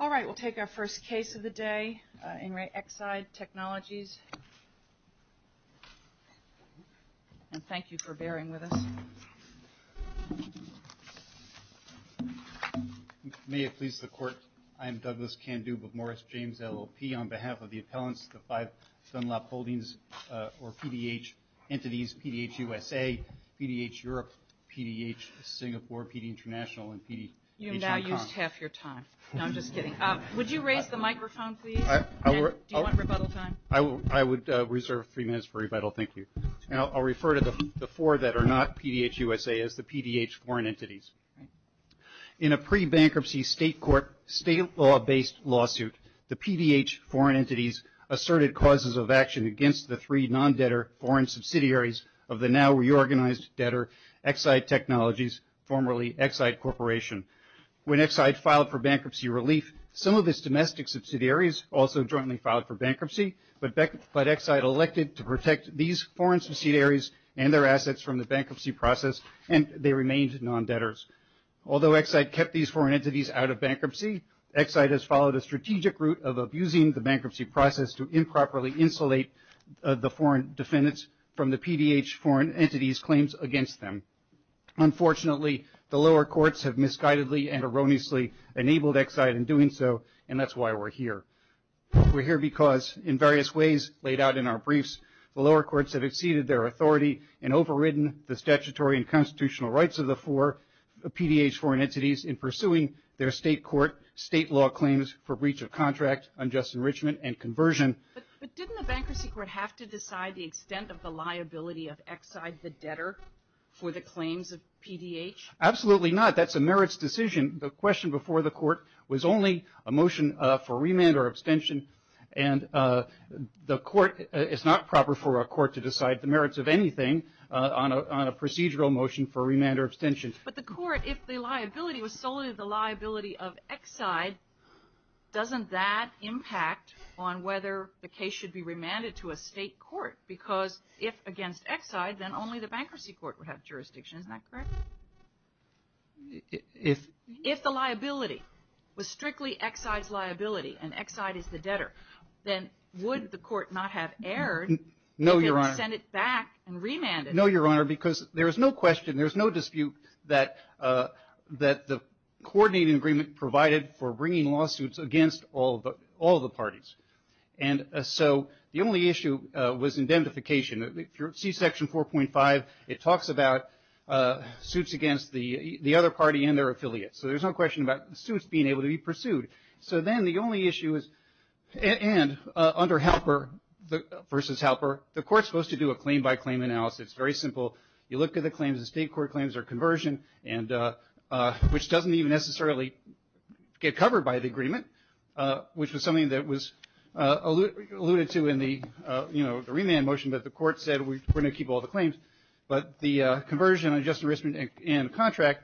All right, we'll take our first case of the day, In Re Exide Technologies, and thank you for bearing with us. May it please the court, I am Douglas Candube of Morris James LLP. On behalf of the appellants, the five Dunlop Holdings, or PDH entities, PDH USA, PDH Europe, PDH Singapore, PDH International, and PDH Hong Kong. You've now used half your time. No, I'm just kidding. Would you raise the microphone, please? Do you want rebuttal time? I would reserve three minutes for rebuttal, thank you. I'll refer to the four that are not PDH USA as the PDH foreign entities. In a pre-bankruptcy state court, state law-based lawsuit, the PDH foreign entities asserted causes of action against the three non-debtor foreign subsidiaries of the now reorganized debtor Exide Technologies, formerly Exide Corporation. When Exide filed for bankruptcy relief, some of its domestic subsidiaries also jointly filed for bankruptcy, but Exide elected to protect these foreign subsidiaries and their assets from the bankruptcy process, and they remained non-debtors. Although Exide kept these foreign entities out of bankruptcy, Exide has followed a strategic route of abusing the bankruptcy process to improperly insulate the foreign defendants from the PDH foreign entities' claims against them. Unfortunately, the lower courts have misguidedly and erroneously enabled Exide in doing so, and that's why we're here. We're here because, in various ways laid out in our briefs, the lower courts have exceeded their authority and overridden the statutory and constitutional rights of the four PDH foreign entities in pursuing their state court state law claims for breach of contract, unjust enrichment, and conversion. But didn't the bankruptcy court have to decide the extent of the liability of Exide the debtor for the claims of PDH? Absolutely not. That's a merits decision. The question before the court was only a motion for remand or abstention, and it's not proper for a court to decide the merits of anything on a procedural motion for remand or abstention. But the court, if the liability was solely the liability of Exide, doesn't that impact on whether the case should be remanded to a state court? Because if against Exide, then only the bankruptcy court would have jurisdiction. Isn't that correct? If the liability was strictly Exide's liability and Exide is the debtor, then would the court not have erred and send it back and remand it? No, Your Honor, because there is no question, there's no dispute that the coordinating agreement provided for bringing lawsuits against all the parties. And so the only issue was indemnification. If you see Section 4.5, it talks about suits against the other party and their affiliates. So there's no question about suits being able to be pursued. So then the only issue is, and under Halper versus Halper, the court's supposed to do a claim-by-claim analysis. It's very simple. You look at the claims. The state court claims are conversion, which doesn't even necessarily get covered by the agreement, which was something that was alluded to in the remand motion that the court said, we're going to keep all the claims. But the conversion, adjusted risk and contract,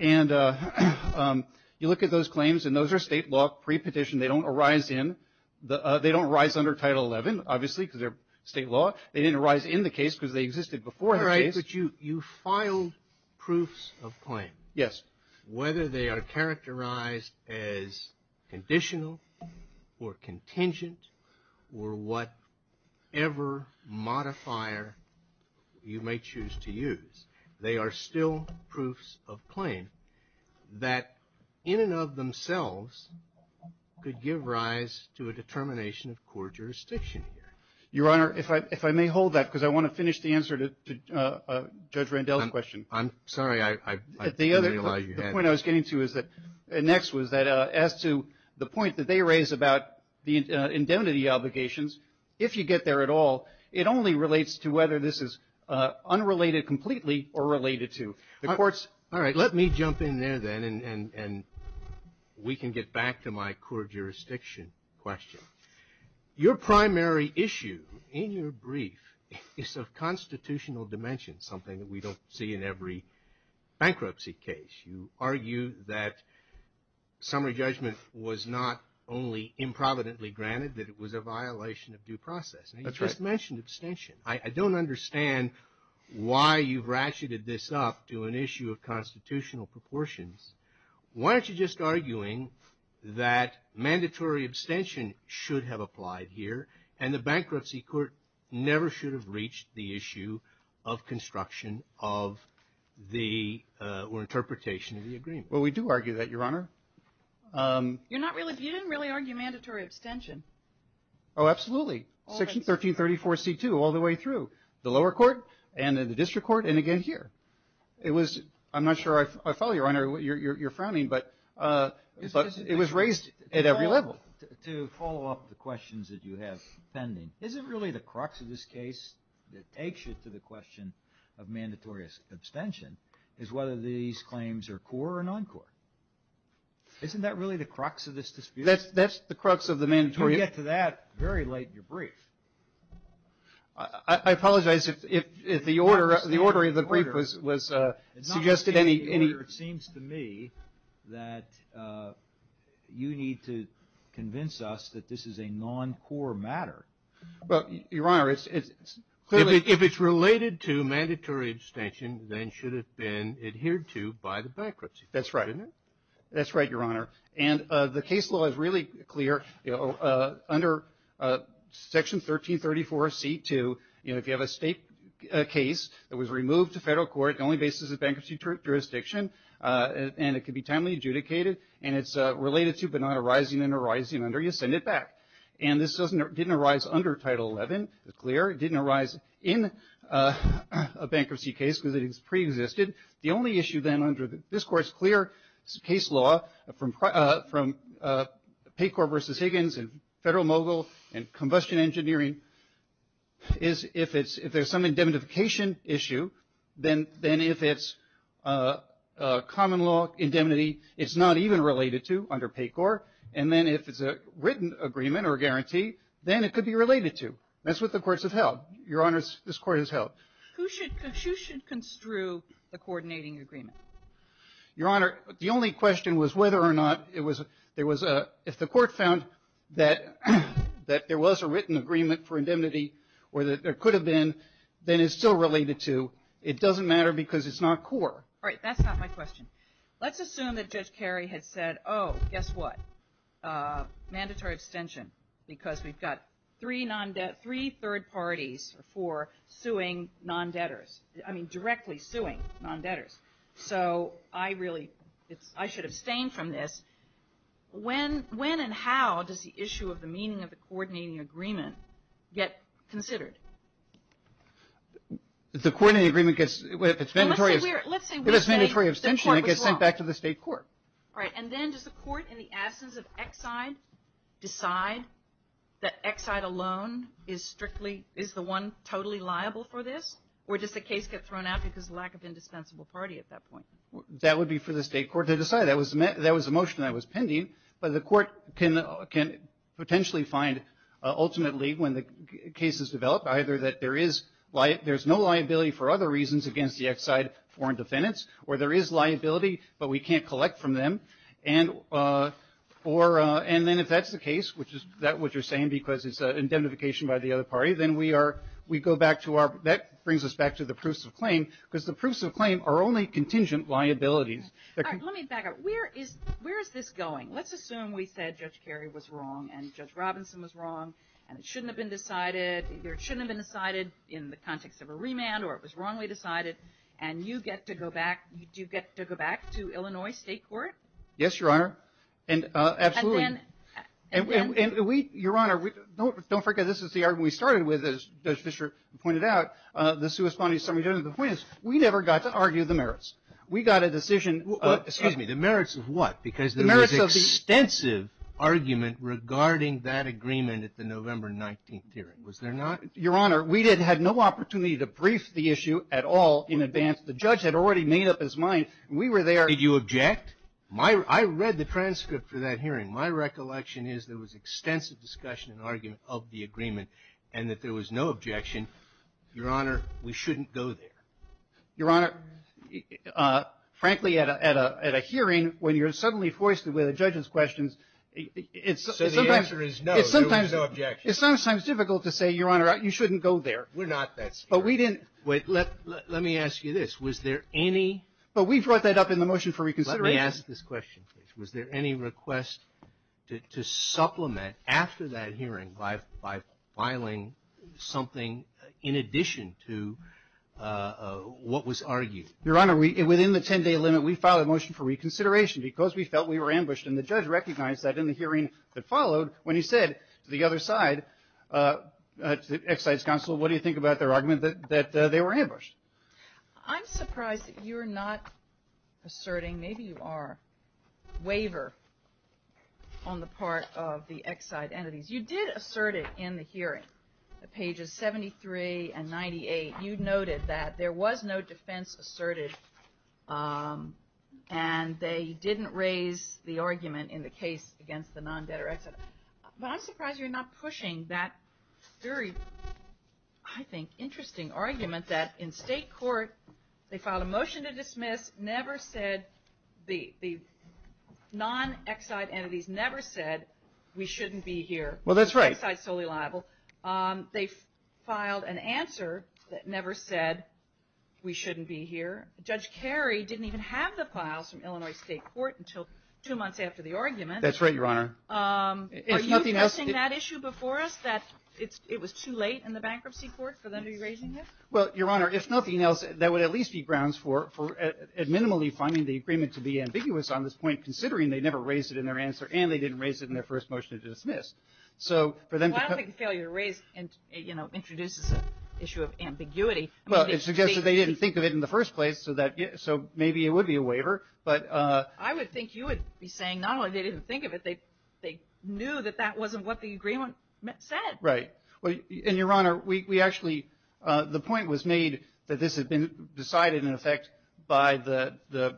and you look at those claims, and those are state law pre-petition. They don't arise under Title 11, obviously, because they're state law. They didn't arise in the case because they existed before the case. All right, but you filed proofs of claim. Yes. Whether they are characterized as conditional or contingent or whatever modifier you may choose to use, they are still proofs of claim that in and of themselves could give rise to a determination of court jurisdiction here. Your Honor, if I may hold that, because I want to finish the answer to Judge Randell's question. I'm sorry. I didn't realize you had it. The point I was getting to next was that as to the point that they raise about the indemnity obligations, if you get there at all, it only relates to whether this is unrelated completely or related to the courts. All right. Let me jump in there then, and we can get back to my court jurisdiction question. Your primary issue in your brief is of constitutional dimension, something that we don't see in every bankruptcy case. You argue that summary judgment was not only improvidently granted, that it was a violation of due process. That's right. And you just mentioned abstention. I don't understand why you've ratcheted this up to an issue of constitutional proportions. Why aren't you just arguing that mandatory abstention should have applied here and the bankruptcy court never should have reached the issue of construction or interpretation of the agreement? Well, we do argue that, Your Honor. You didn't really argue mandatory abstention. Oh, absolutely. Section 1334C-2 all the way through the lower court and then the district court and again here. I'm not sure I follow you, Your Honor. You're frowning, but it was raised at every level. To follow up the questions that you have pending, is it really the crux of this case that takes you to the question of mandatory abstention is whether these claims are core or non-core? Isn't that really the crux of this dispute? That's the crux of the mandatory. You get to that very late in your brief. I apologize if the order of the brief was suggested any. It seems to me that you need to convince us that this is a non-core matter. Well, Your Honor, it's clearly. If it's related to mandatory abstention, then it should have been adhered to by the bankruptcy. That's right. That's right, Your Honor. And the case law is really clear. Under Section 1334C-2, if you have a state case that was removed to federal court, the only basis is bankruptcy jurisdiction, and it can be timely adjudicated, and it's related to but not arising and arising under, you send it back. And this didn't arise under Title 11. It's clear. It didn't arise in a bankruptcy case because it is preexisted. The only issue, then, under this Court's clear case law from PAYCORP v. Higgins and Federal Mogul and Combustion Engineering is if there's some indemnification issue, then if it's common law indemnity, it's not even related to under PAYCORP, and then if it's a written agreement or guarantee, then it could be related to. That's what the courts have held. Your Honors, this Court has held. Who should construe the coordinating agreement? Your Honor, the only question was whether or not there was a ‑‑ if the Court found that there was a written agreement for indemnity or that there could have been, then it's still related to. It doesn't matter because it's not core. All right. That's not my question. Let's assume that Judge Carey had said, oh, guess what, mandatory extension because we've got three third parties for suing non‑debtors, I mean directly suing non‑debtors. So I really should abstain from this. When and how does the issue of the meaning of the coordinating agreement get considered? The coordinating agreement gets ‑‑ Well, let's say we say the Court was wrong. If it's mandatory abstention, it gets sent back to the State Court. All right. And then does the Court, in the absence of Exide, decide that Exide alone is strictly, is the one totally liable for this? Or does the case get thrown out because of lack of indispensable party at that point? That would be for the State Court to decide. That was the motion that was pending. But the Court can potentially find, ultimately, when the case is developed, either that there is no liability for other reasons against the Exide foreign defendants or there is liability but we can't collect from them. And then if that's the case, which is what you're saying, because it's indemnification by the other party, then we go back to our ‑‑ that brings us back to the proofs of claim because the proofs of claim are only contingent liabilities. All right. Let me back up. Where is this going? Let's assume we said Judge Kerry was wrong and Judge Robinson was wrong and it shouldn't have been decided. Either it shouldn't have been decided in the context of a remand or it was wrongly decided and you get to go back ‑‑ do you get to go back to Illinois State Court? Yes, Your Honor. And absolutely. And then ‑‑ And we, Your Honor, don't forget this is the argument we started with, as Judge Fischer pointed out, the suspended summary judgment. The point is we never got to argue the merits. We got a decision ‑‑ Excuse me. The merits of what? The merits of the ‑‑ Because there was extensive argument regarding that agreement at the November 19th hearing. Was there not? Your Honor, we had no opportunity to brief the issue at all in advance. The judge had already made up his mind. We were there. Did you object? I read the transcript for that hearing. My recollection is there was extensive discussion and argument of the agreement and that there was no objection. Your Honor, we shouldn't go there. Your Honor, frankly, at a hearing when you're suddenly foisted with a judge's questions, it's sometimes ‑‑ So the answer is no, there was no objection. It's sometimes difficult to say, Your Honor, you shouldn't go there. We're not that scared. But we didn't ‑‑ Wait. Let me ask you this. Was there any ‑‑ But we brought that up in the motion for reconsideration. Let me ask this question. Was there any request to supplement after that hearing by filing something in addition to what was argued? Your Honor, within the 10‑day limit, we filed a motion for reconsideration because we felt we were ambushed. And the judge recognized that in the hearing that followed when he said to the other side, Exide's counsel, what do you think about their argument that they were ambushed? I'm surprised that you're not asserting, maybe you are, waiver on the part of the Exide entities. You noted that there was no defense asserted and they didn't raise the argument in the case against the non‑debtor Exide. But I'm surprised you're not pushing that very, I think, interesting argument that in state court they filed a motion to dismiss, never said the non‑Exide entities never said we shouldn't be here. Well, that's right. Exide's solely liable. They filed an answer that never said we shouldn't be here. Judge Carey didn't even have the files from Illinois State Court until two months after the argument. That's right, Your Honor. Are you addressing that issue before us, that it was too late in the bankruptcy court for them to be raising it? Well, Your Honor, if nothing else, that would at least be grounds for minimally finding the agreement to be ambiguous on this point, considering they never raised it in their answer and they didn't raise it in their first motion to dismiss. Well, I don't think the failure to raise introduces an issue of ambiguity. Well, it suggests that they didn't think of it in the first place, so maybe it would be a waiver. I would think you would be saying not only they didn't think of it, they knew that that wasn't what the agreement said. Right. And, Your Honor, we actually, the point was made that this had been decided, in effect, by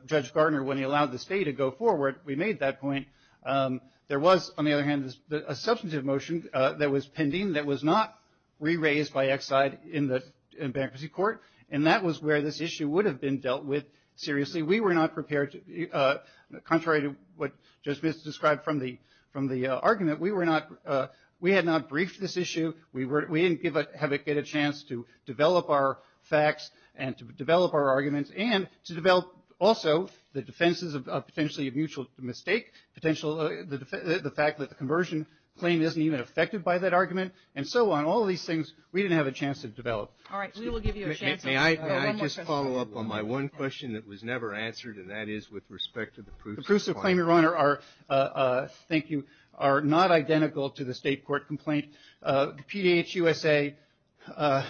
Judge Gardner when he allowed the state to go forward. We made that point. There was, on the other hand, a substantive motion that was pending that was not re-raised by Exide in the bankruptcy court, and that was where this issue would have been dealt with seriously. We were not prepared to, contrary to what Judge Smith described from the argument, we had not briefed this issue. We didn't have a chance to develop our facts and to develop our arguments and to develop also the defenses of potentially a mutual mistake, the fact that the conversion claim isn't even affected by that argument, and so on. All of these things we didn't have a chance to develop. All right. We will give you a chance. May I just follow up on my one question that was never answered, and that is with respect to the proofs of claim. The proofs of claim, Your Honor, thank you, are not identical to the state court complaint. The PDHUSA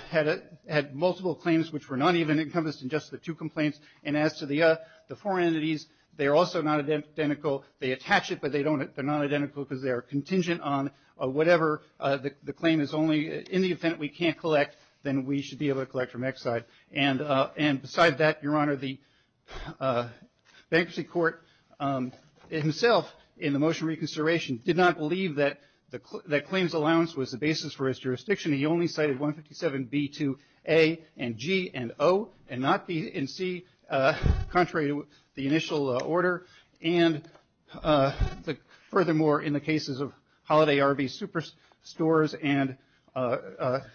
had multiple claims which were not even encompassed in just the two complaints, and as to the four entities, they are also not identical. They attach it, but they are not identical because they are contingent on whatever the claim is only in the event we can't collect, then we should be able to collect from Exide. And beside that, Your Honor, the bankruptcy court himself in the motion reconsideration did not believe that claims allowance was the basis for his jurisdiction. He only cited 157B to A and G and O and not B and C, contrary to the initial order. And furthermore, in the cases of Holiday RV Superstores and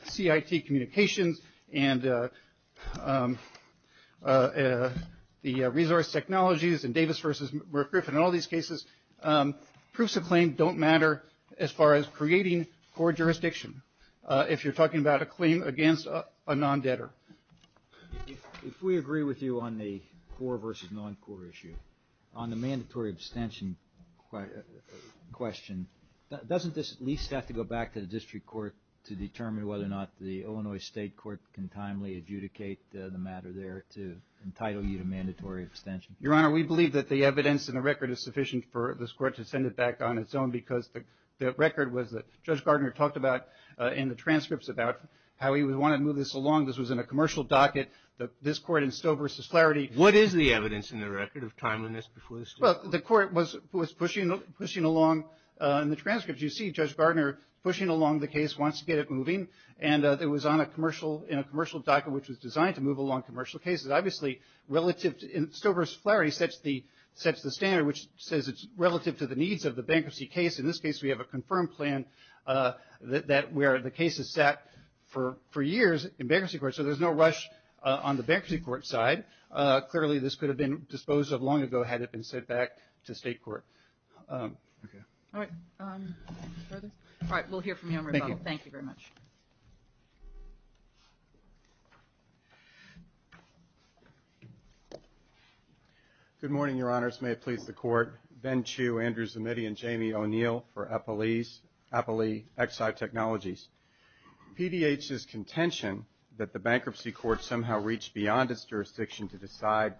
CIT Communications and the resource technologies and Davis v. McGriffin, in all these cases, proofs of claim don't if you're talking about a claim against a non-debtor. If we agree with you on the core versus non-core issue, on the mandatory abstention question, doesn't this at least have to go back to the district court to determine whether or not the Illinois state court can timely adjudicate the matter there to entitle you to mandatory abstention? Your Honor, we believe that the evidence and the record is sufficient for this court to in the transcripts about how he would want to move this along. This was in a commercial docket. This court in Stowe v. Flaherty. What is the evidence in the record of timeliness before the state court? Well, the court was pushing along in the transcripts. You see Judge Gardner pushing along the case, wants to get it moving, and it was on a commercial docket, which was designed to move along commercial cases. Obviously relative to Stowe v. Flaherty sets the standard, which says it's relative to the needs of the bankruptcy case. In this case, we have a confirmed plan where the case is set for years in bankruptcy court, so there's no rush on the bankruptcy court side. Clearly, this could have been disposed of long ago had it been sent back to state court. Okay. All right. Further? All right. We'll hear from you on rebuttal. Thank you. Thank you very much. Good morning, Your Honors. May it please the court. Ben Chiu, Andrew Zimitty, and Jamie O'Neill for Eppley Exide Technologies. PDH's contention that the bankruptcy court somehow reached beyond its jurisdiction to decide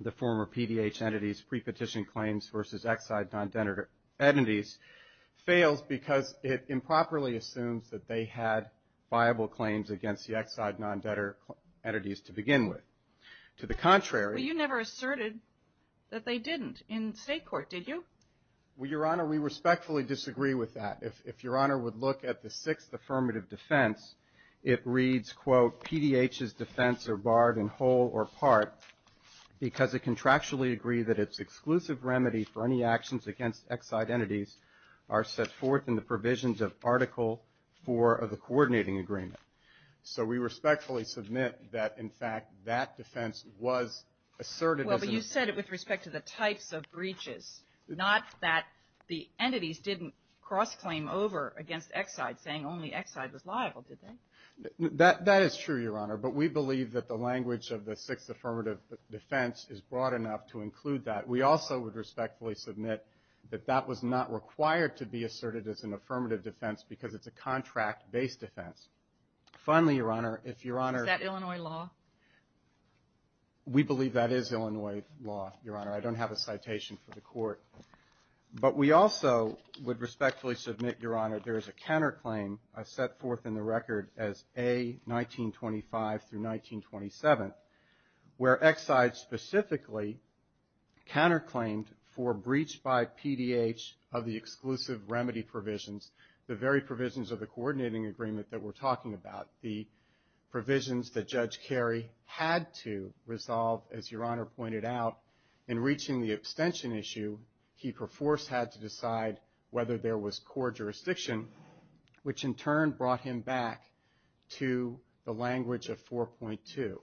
the former PDH entities' pre-petition claims versus Exide non-debtor entities fails because it improperly assumes that they had viable claims against the Exide non-debtor entities to begin with. To the contrary — Well, Your Honor, we respectfully disagree with that. If Your Honor would look at the sixth affirmative defense, it reads, quote, So we respectfully submit that, in fact, that defense was asserted as an — Well, but you said it with respect to the types of breaches, not that the entities didn't cross-claim over against Exide, saying only Exide was liable, did they? That is true, Your Honor. But we believe that the language of the sixth affirmative defense is broad enough to include that. We also would respectfully submit that that was not required to be asserted as an affirmative defense because it's a contract-based defense. Finally, Your Honor, if Your Honor — Is that Illinois law? We believe that is Illinois law, Your Honor. I don't have a citation for the court. But we also would respectfully submit, Your Honor, there is a counterclaim set forth in the record as A-1925-1927, where Exide specifically counterclaimed for breach by PDH of the exclusive remedy provisions, the very provisions of the coordinating agreement that we're talking about, the provisions that Judge Carey had to resolve, as Your Honor pointed out. In reaching the extension issue, he, per force, had to decide whether there was core jurisdiction, which in turn brought him back to the language of 4.2.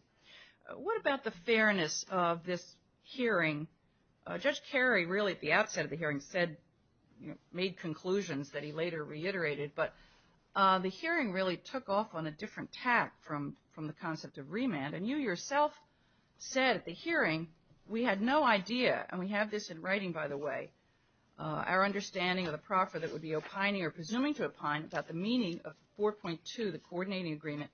What about the fairness of this hearing? Judge Carey really, at the outset of the hearing, said — made conclusions that he later reiterated. But the hearing really took off on a different tack from the concept of remand. And you yourself said at the hearing, we had no idea, and we have this in writing, by the way, our understanding of the proffer that would be opining or presuming to opine about the meaning of 4.2, the coordinating agreement,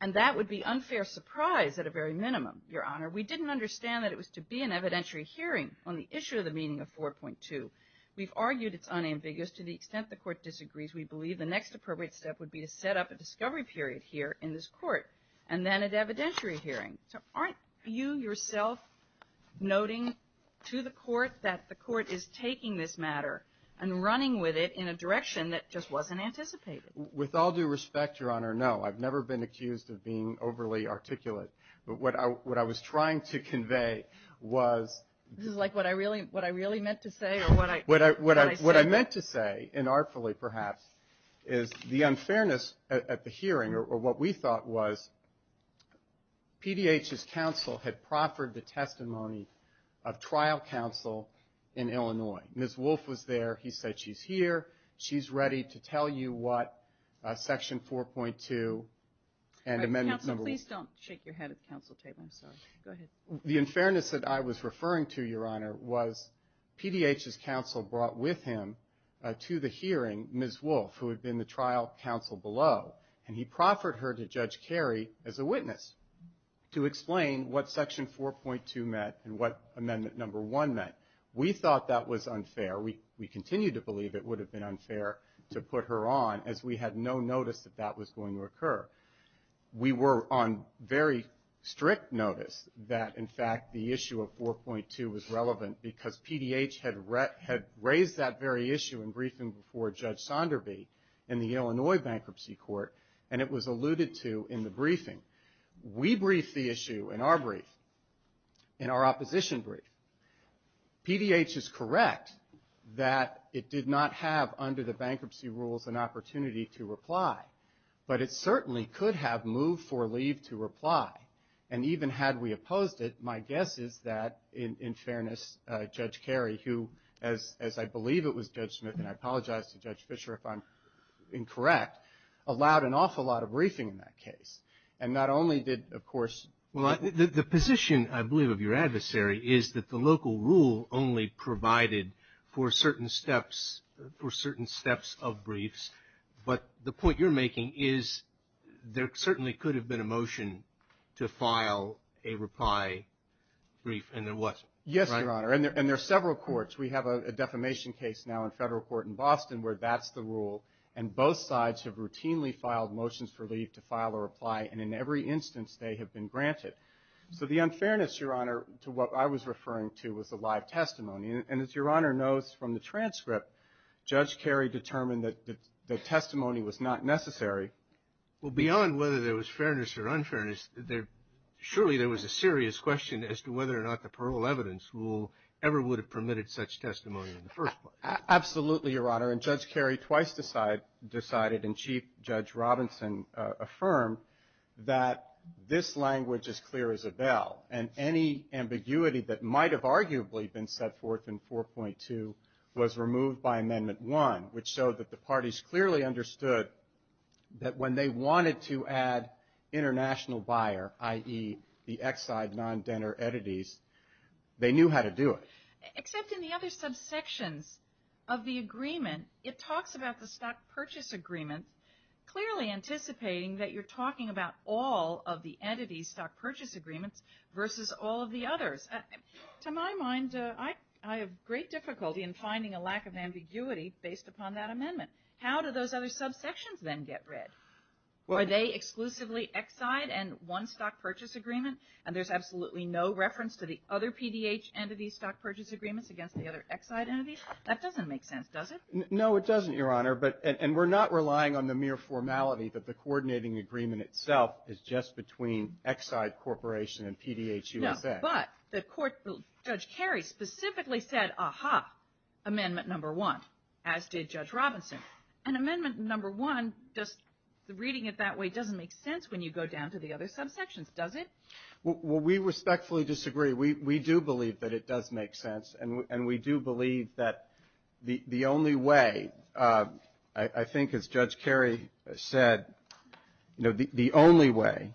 and that would be unfair surprise at a very minimum, Your Honor. We didn't understand that it was to be an evidentiary hearing on the issue of the meaning of 4.2. We've argued it's unambiguous to the extent the Court disagrees. We believe the next appropriate step would be to set up a discovery period here in this Court and then an evidentiary hearing. So aren't you yourself noting to the Court that the Court is taking this matter and running with it in a direction that just wasn't anticipated? With all due respect, Your Honor, no. I've never been accused of being overly articulate. But what I was trying to convey was — This is like what I really meant to say or what I said? What I meant to say, and artfully perhaps, is the unfairness at the hearing or what we thought was PDH's counsel had proffered the testimony of trial counsel in Illinois. Ms. Wolfe was there. He said she's here. She's ready to tell you what Section 4.2 and Amendment No. — Counsel, please don't shake your head at the counsel table. I'm sorry. Go ahead. The unfairness that I was referring to, Your Honor, was PDH's counsel brought with him to the hearing Ms. Wolfe, who had been the trial counsel below, and he proffered her to Judge Carey as a witness to explain what Section 4.2 meant and what Amendment No. 1 meant. We thought that was unfair. We continue to believe it would have been unfair to put her on as we had no notice that that was going to occur. We were on very strict notice that, in fact, the issue of 4.2 was relevant because PDH had raised that very issue in briefing before Judge Sonderby in the Illinois Bankruptcy Court, and it was alluded to in the briefing. We briefed the issue in our brief, in our opposition brief. PDH is correct that it did not have under the bankruptcy rules an opportunity to reply, but it certainly could have moved for leave to reply. And even had we opposed it, my guess is that, in fairness, Judge Carey, who, as I believe it was Judge Smith, and I apologize to Judge Fischer if I'm incorrect, allowed an awful lot of briefing in that case. And not only did, of course the position, I believe, of your adversary, is that the local rule only provided for certain steps of briefs, but the point you're making is there certainly could have been a motion to file a reply brief, and there wasn't. Yes, Your Honor, and there are several courts. We have a defamation case now in federal court in Boston where that's the rule, and both sides have routinely filed motions for leave to file a reply, and in every instance they have been granted. So the unfairness, Your Honor, to what I was referring to was the live testimony. And as Your Honor knows from the transcript, Judge Carey determined that the testimony was not necessary. Well, beyond whether there was fairness or unfairness, surely there was a serious question as to whether or not the parole evidence rule ever would have permitted such testimony in the first place. Absolutely, Your Honor, and Judge Carey twice decided and Chief Judge Robinson affirmed that this language is clear as a bell, and any ambiguity that might have arguably been set forth in 4.2 was removed by Amendment 1, which showed that the parties clearly understood that when they wanted to add international buyer, i.e., the Exide non-denner entities, they knew how to do it. Except in the other subsections of the agreement, it talks about the stock purchase agreement, clearly anticipating that you're talking about all of the entities' stock purchase agreements versus all of the others. To my mind, I have great difficulty in finding a lack of ambiguity based upon that amendment. How do those other subsections then get read? Are they exclusively Exide and one stock purchase agreement, and there's absolutely no reference to the other PDH entity stock purchase agreements against the other Exide entities? That doesn't make sense, does it? No, it doesn't, Your Honor, and we're not relying on the mere formality that the coordinating agreement itself is just between Exide Corporation and PDH USA. No, but Judge Kerry specifically said, aha, Amendment 1, as did Judge Robinson. And Amendment 1, just reading it that way, doesn't make sense when you go down to the other subsections, does it? Well, we respectfully disagree. We do believe that it does make sense, and we do believe that the only way, I think as Judge Kerry said, the only way,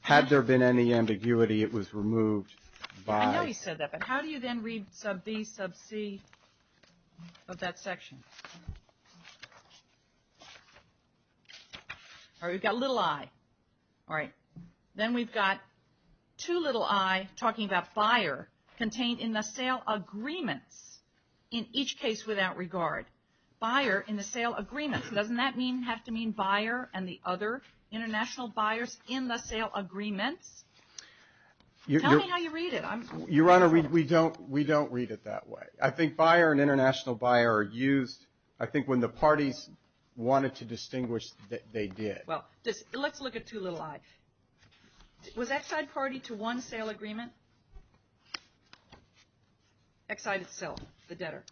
had there been any ambiguity, it was removed by. I know he said that, but how do you then read sub B, sub C of that section? All right, we've got little i. All right, then we've got two little i talking about buyer contained in the sale agreements in each case without regard. Buyer in the sale agreements, doesn't that have to mean buyer and the other international buyers in the sale agreements? Tell me how you read it. Your Honor, we don't read it that way. I think buyer and international buyer are used, I think when the parties wanted to distinguish, they did. Well, let's look at two little i. Was Exide party to one sale agreement? Exide itself, the debtor.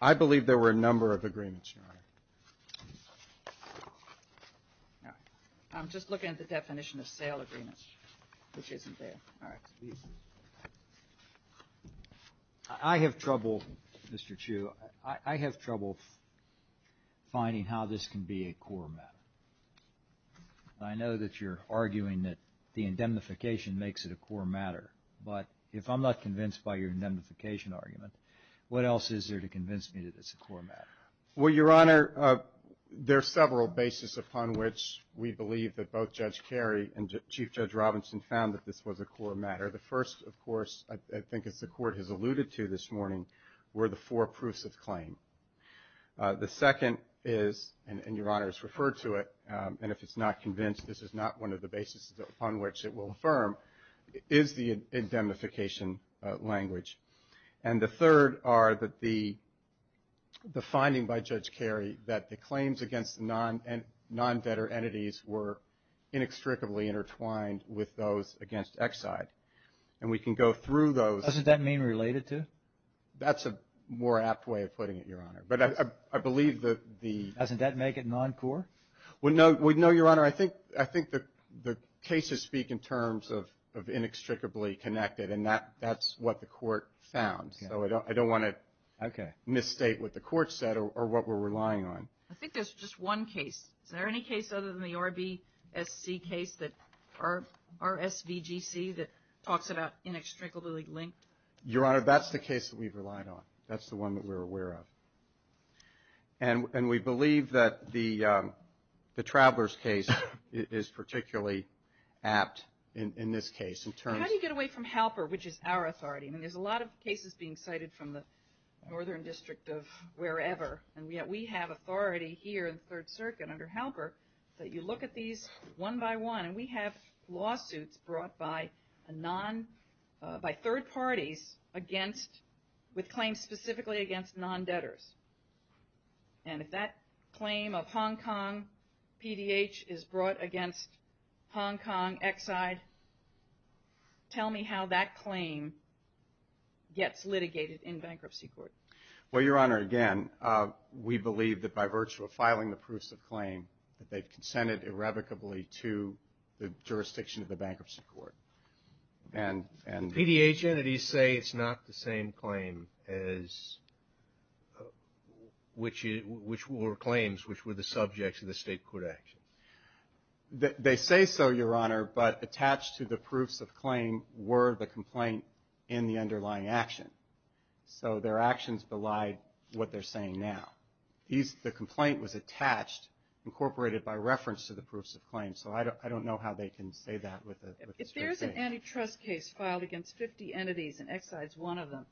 I believe there were a number of agreements, Your Honor. All right. I'm just looking at the definition of sale agreements, which isn't there. All right. I have trouble, Mr. Chu, I have trouble finding how this can be a core matter. I know that you're arguing that the indemnification makes it a core matter, but if I'm not convinced by your indemnification argument, what else is there to convince me that it's a core matter? Well, Your Honor, there are several bases upon which we believe that both Judge Kerry and Chief Judge Robinson found that this was a core matter. The first, of course, I think as the Court has alluded to this morning, were the four proofs of claim. The second is, and Your Honor has referred to it, and if it's not convinced this is not one of the bases upon which it will affirm, is the indemnification language. And the third are the finding by Judge Kerry that the claims against non-debtor entities were inextricably intertwined with those against Exide. And we can go through those. Doesn't that mean related to? That's a more apt way of putting it, Your Honor. But I believe that the... Doesn't that make it non-core? No, Your Honor. I think the cases speak in terms of inextricably connected, and that's what the Court found. So I don't want to misstate what the Court said or what we're relying on. I think there's just one case. Is there any case other than the RBSC case, RSVGC, that talks about inextricably linked? Your Honor, that's the case that we've relied on. That's the one that we're aware of. And we believe that the Travelers case is particularly apt in this case. How do you get away from Halper, which is our authority? I mean, there's a lot of cases being cited from the Northern District of wherever, and yet we have authority here in the Third Circuit under Halper that you look at these one by one. And we have lawsuits brought by third parties with claims specifically against non-debtors. And if that claim of Hong Kong PDH is brought against Hong Kong Exide, tell me how that claim gets litigated in bankruptcy court. Well, Your Honor, again, we believe that by virtue of filing the proofs of claim, that they've consented irrevocably to the jurisdiction of the bankruptcy court. And PDH entities say it's not the same claim as which were claims which were the subjects of the state court action. They say so, Your Honor, but attached to the proofs of claim were the complaint in the underlying action. So their actions belied what they're saying now. The complaint was attached, incorporated by reference to the proofs of claim. So I don't know how they can say that with the state court. If there's an antitrust case filed against 50 entities, and Exide's one of them,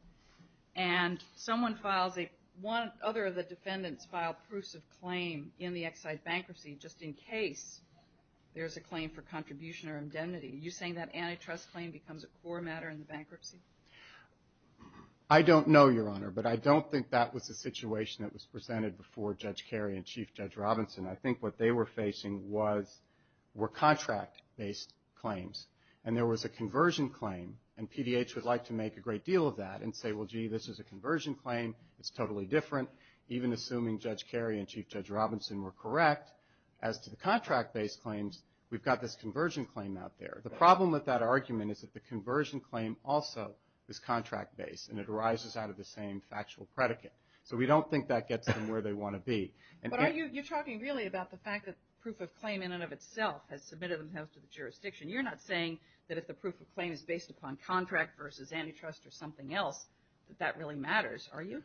and someone files a one other of the defendants filed proofs of claim in the Exide bankruptcy just in case there's a claim for contribution or indemnity, are you saying that antitrust claim becomes a core matter in the bankruptcy? I don't know, Your Honor, but I don't think that was the situation that was presented before Judge Kerry and Chief Judge Robinson. I think what they were facing were contract-based claims. And there was a conversion claim, and PDH would like to make a great deal of that and say, well, gee, this is a conversion claim. It's totally different. Even assuming Judge Kerry and Chief Judge Robinson were correct, as to the contract-based claims, we've got this conversion claim out there. The problem with that argument is that the conversion claim also is contract-based, and it arises out of the same factual predicate. So we don't think that gets them where they want to be. But are you talking really about the fact that proof of claim in and of itself has submitted themselves to the jurisdiction? You're not saying that if the proof of claim is based upon contract versus antitrust or something else, that that really matters, are you?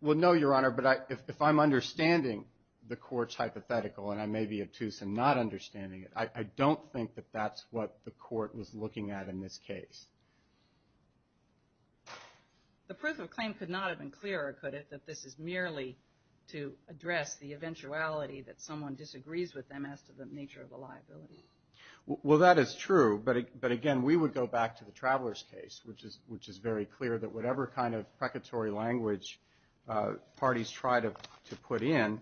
Well, no, Your Honor, but if I'm understanding the court's hypothetical, and I may be obtuse in not understanding it, I don't think that that's what the court was looking at in this case. The proof of claim could not have been clearer, could it, that this is merely to address the eventuality that someone disagrees with them as to the nature of the liability? Well, that is true. But, again, we would go back to the Traveler's case, which is very clear that whatever kind of precatory language parties try to put in,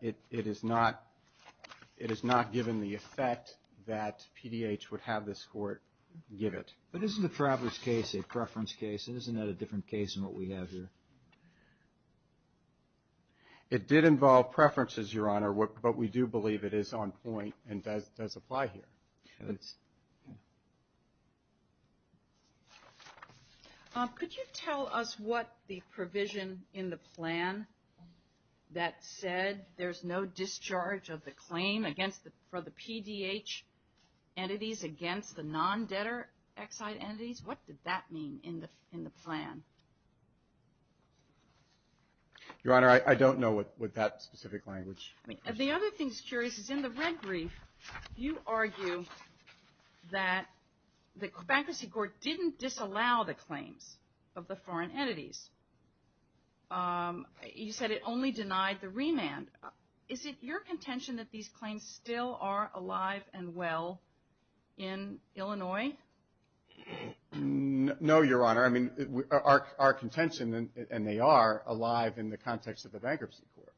it is not given the effect that PDH would have this court give it. But isn't the Traveler's case a preference case? Isn't that a different case than what we have here? It did involve preferences, Your Honor, but we do believe it is on point and does apply here. Okay. Could you tell us what the provision in the plan that said there's no discharge of the claim for the PDH entities against the non-debtor Exide entities, what did that mean in the plan? Your Honor, I don't know with that specific language. The other thing that's curious is in the red brief, you argue that the Bankruptcy Court didn't disallow the claims of the foreign entities. You said it only denied the remand. Is it your contention that these claims still are alive and well in Illinois? No, Your Honor. I mean, our contention, and they are, alive in the context of the Bankruptcy Court.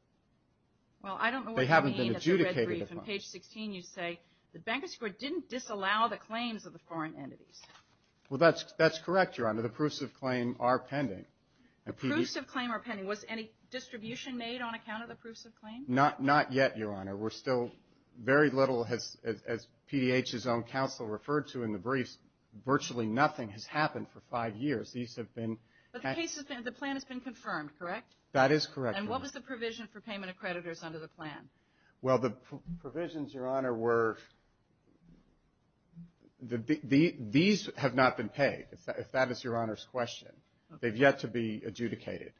Well, I don't know what you mean at the red brief. They haven't been adjudicated upon. On page 16, you say the Bankruptcy Court didn't disallow the claims of the foreign entities. Well, that's correct, Your Honor. The proofs of claim are pending. The proofs of claim are pending. Was any distribution made on account of the proofs of claim? Not yet, Your Honor. We're still very little, as PDH's own counsel referred to in the briefs, virtually nothing has happened for five years. These have been – But the plan has been confirmed, correct? That is correct, Your Honor. And what was the provision for payment of creditors under the plan? Well, the provisions, Your Honor, were – these have not been paid, if that is Your Honor's question. They've yet to be adjudicated.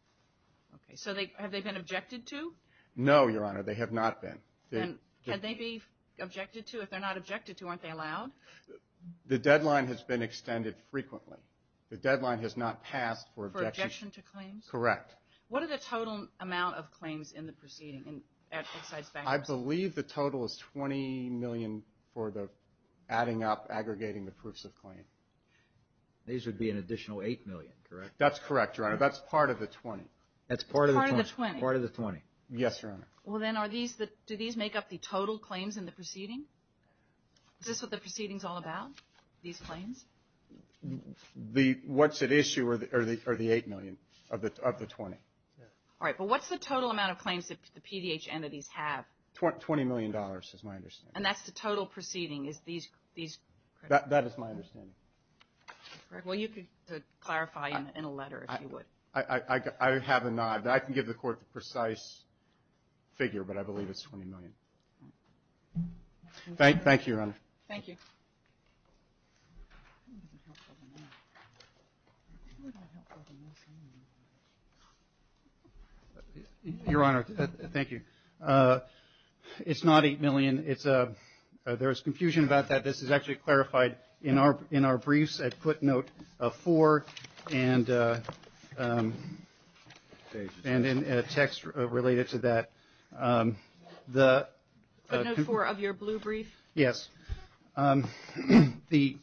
Okay. So have they been objected to? No, Your Honor. They have not been. And can they be objected to? If they're not objected to, aren't they allowed? The deadline has been extended frequently. The deadline has not passed for objection. For objection to claims? Correct. What are the total amount of claims in the proceeding at Excise Bankers? I believe the total is $20 million for the adding up, aggregating the proofs of claim. These would be an additional $8 million, correct? That's correct, Your Honor. That's part of the $20. That's part of the $20? Part of the $20. Yes, Your Honor. Well, then are these – do these make up the total claims in the proceeding? Is this what the proceeding is all about, these claims? What's at issue are the $8 million of the $20. All right. But what's the total amount of claims that the PDH entities have? $20 million is my understanding. And that's the total proceeding, is these? That is my understanding. Well, you could clarify in a letter if you would. I have a nod. I can give the Court the precise figure, but I believe it's $20 million. Thank you, Your Honor. Thank you. Your Honor, thank you. It's not $8 million. There is confusion about that. This is actually clarified in our briefs at footnote 4 and in text related to that. Footnote 4 of your blue brief? Yes. The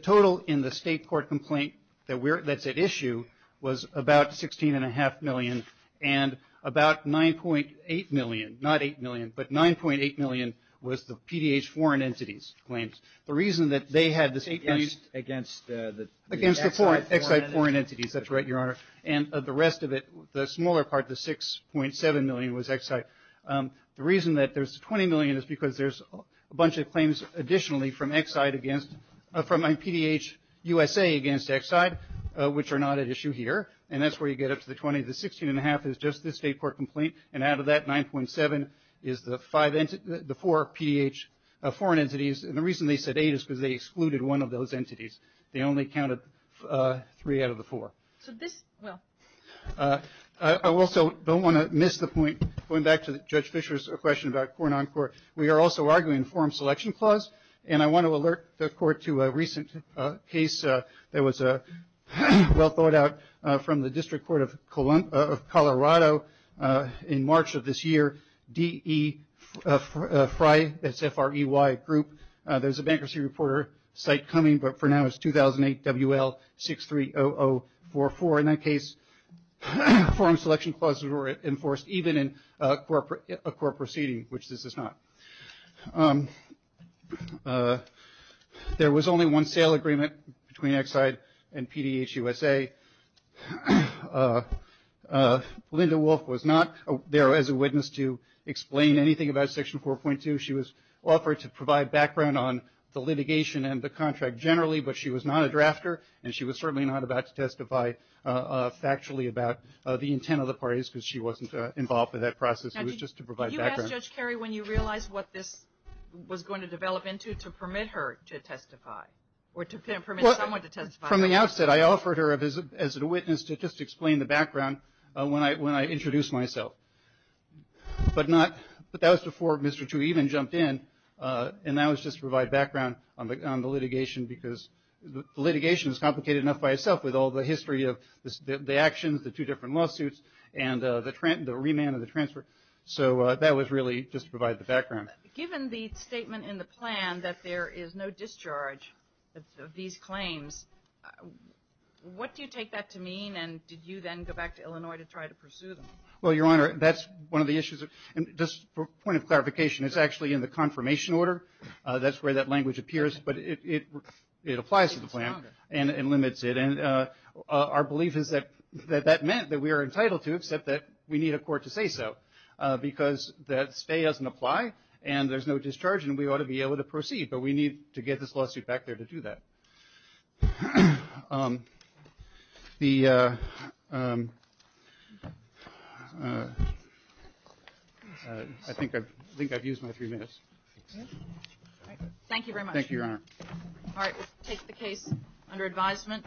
total in the state court complaint that's at issue was about $16.5 million and about $9.8 million – not $8 million, but $9.8 million was the PDH foreign entities' claims. The reason that they had this $8 million – Against the Exide foreign entities. Against the Exide foreign entities. That's right, Your Honor. And the rest of it, the smaller part, the $6.7 million, was Exide. The reason that there's $20 million is because there's a bunch of claims additionally from Exide against – from PDH USA against Exide, which are not at issue here, and that's where you get up to the $20 million. The $16.5 million is just the state court complaint, and out of that $9.7 million is the four PDH foreign entities, and the reason they said $8 million is because they excluded one of those entities. They only counted three out of the four. I also don't want to miss the point. Going back to Judge Fischer's question about court-on-court, we are also arguing a forum selection clause, and I want to alert the Court to a recent case that was well thought out from the District Court of Colorado in March of this year, D.E. Frey, that's F-R-E-Y group. There's a Bankruptcy Reporter site coming, but for now it's 2008 W.L. 630044. In that case, forum selection clauses were enforced even in a court proceeding, which this is not. There was only one sale agreement between Exide and PDH USA. Linda Wolf was not there as a witness to explain anything about Section 4.2. She was offered to provide background on the litigation and the contract generally, but she was not a drafter, and she was certainly not about to testify factually about the intent of the parties because she wasn't involved in that process. It was just to provide background. Now, did you ask Judge Carey when you realized what this was going to develop into to permit her to testify or to permit someone to testify? From the outset, I offered her as a witness to just explain the background when I introduced myself, but that was before Mr. Chu even jumped in, and that was just to provide background on the litigation because the litigation is complicated enough by itself with all the history of the actions, the two different lawsuits, and the remand and the transfer. So that was really just to provide the background. Given the statement in the plan that there is no discharge of these claims, what do you take that to mean, and did you then go back to Illinois to try to pursue them? Well, Your Honor, that's one of the issues. And just for point of clarification, it's actually in the confirmation order. That's where that language appears, but it applies to the plan and limits it, and our belief is that that meant that we are entitled to except that we need a court to say so because that stay doesn't apply and there's no discharge and we ought to be able to proceed, but we need to get this lawsuit back there to do that. I think I've used my three minutes. Thank you very much. Thank you, Your Honor. All right, we'll take the case under advisement.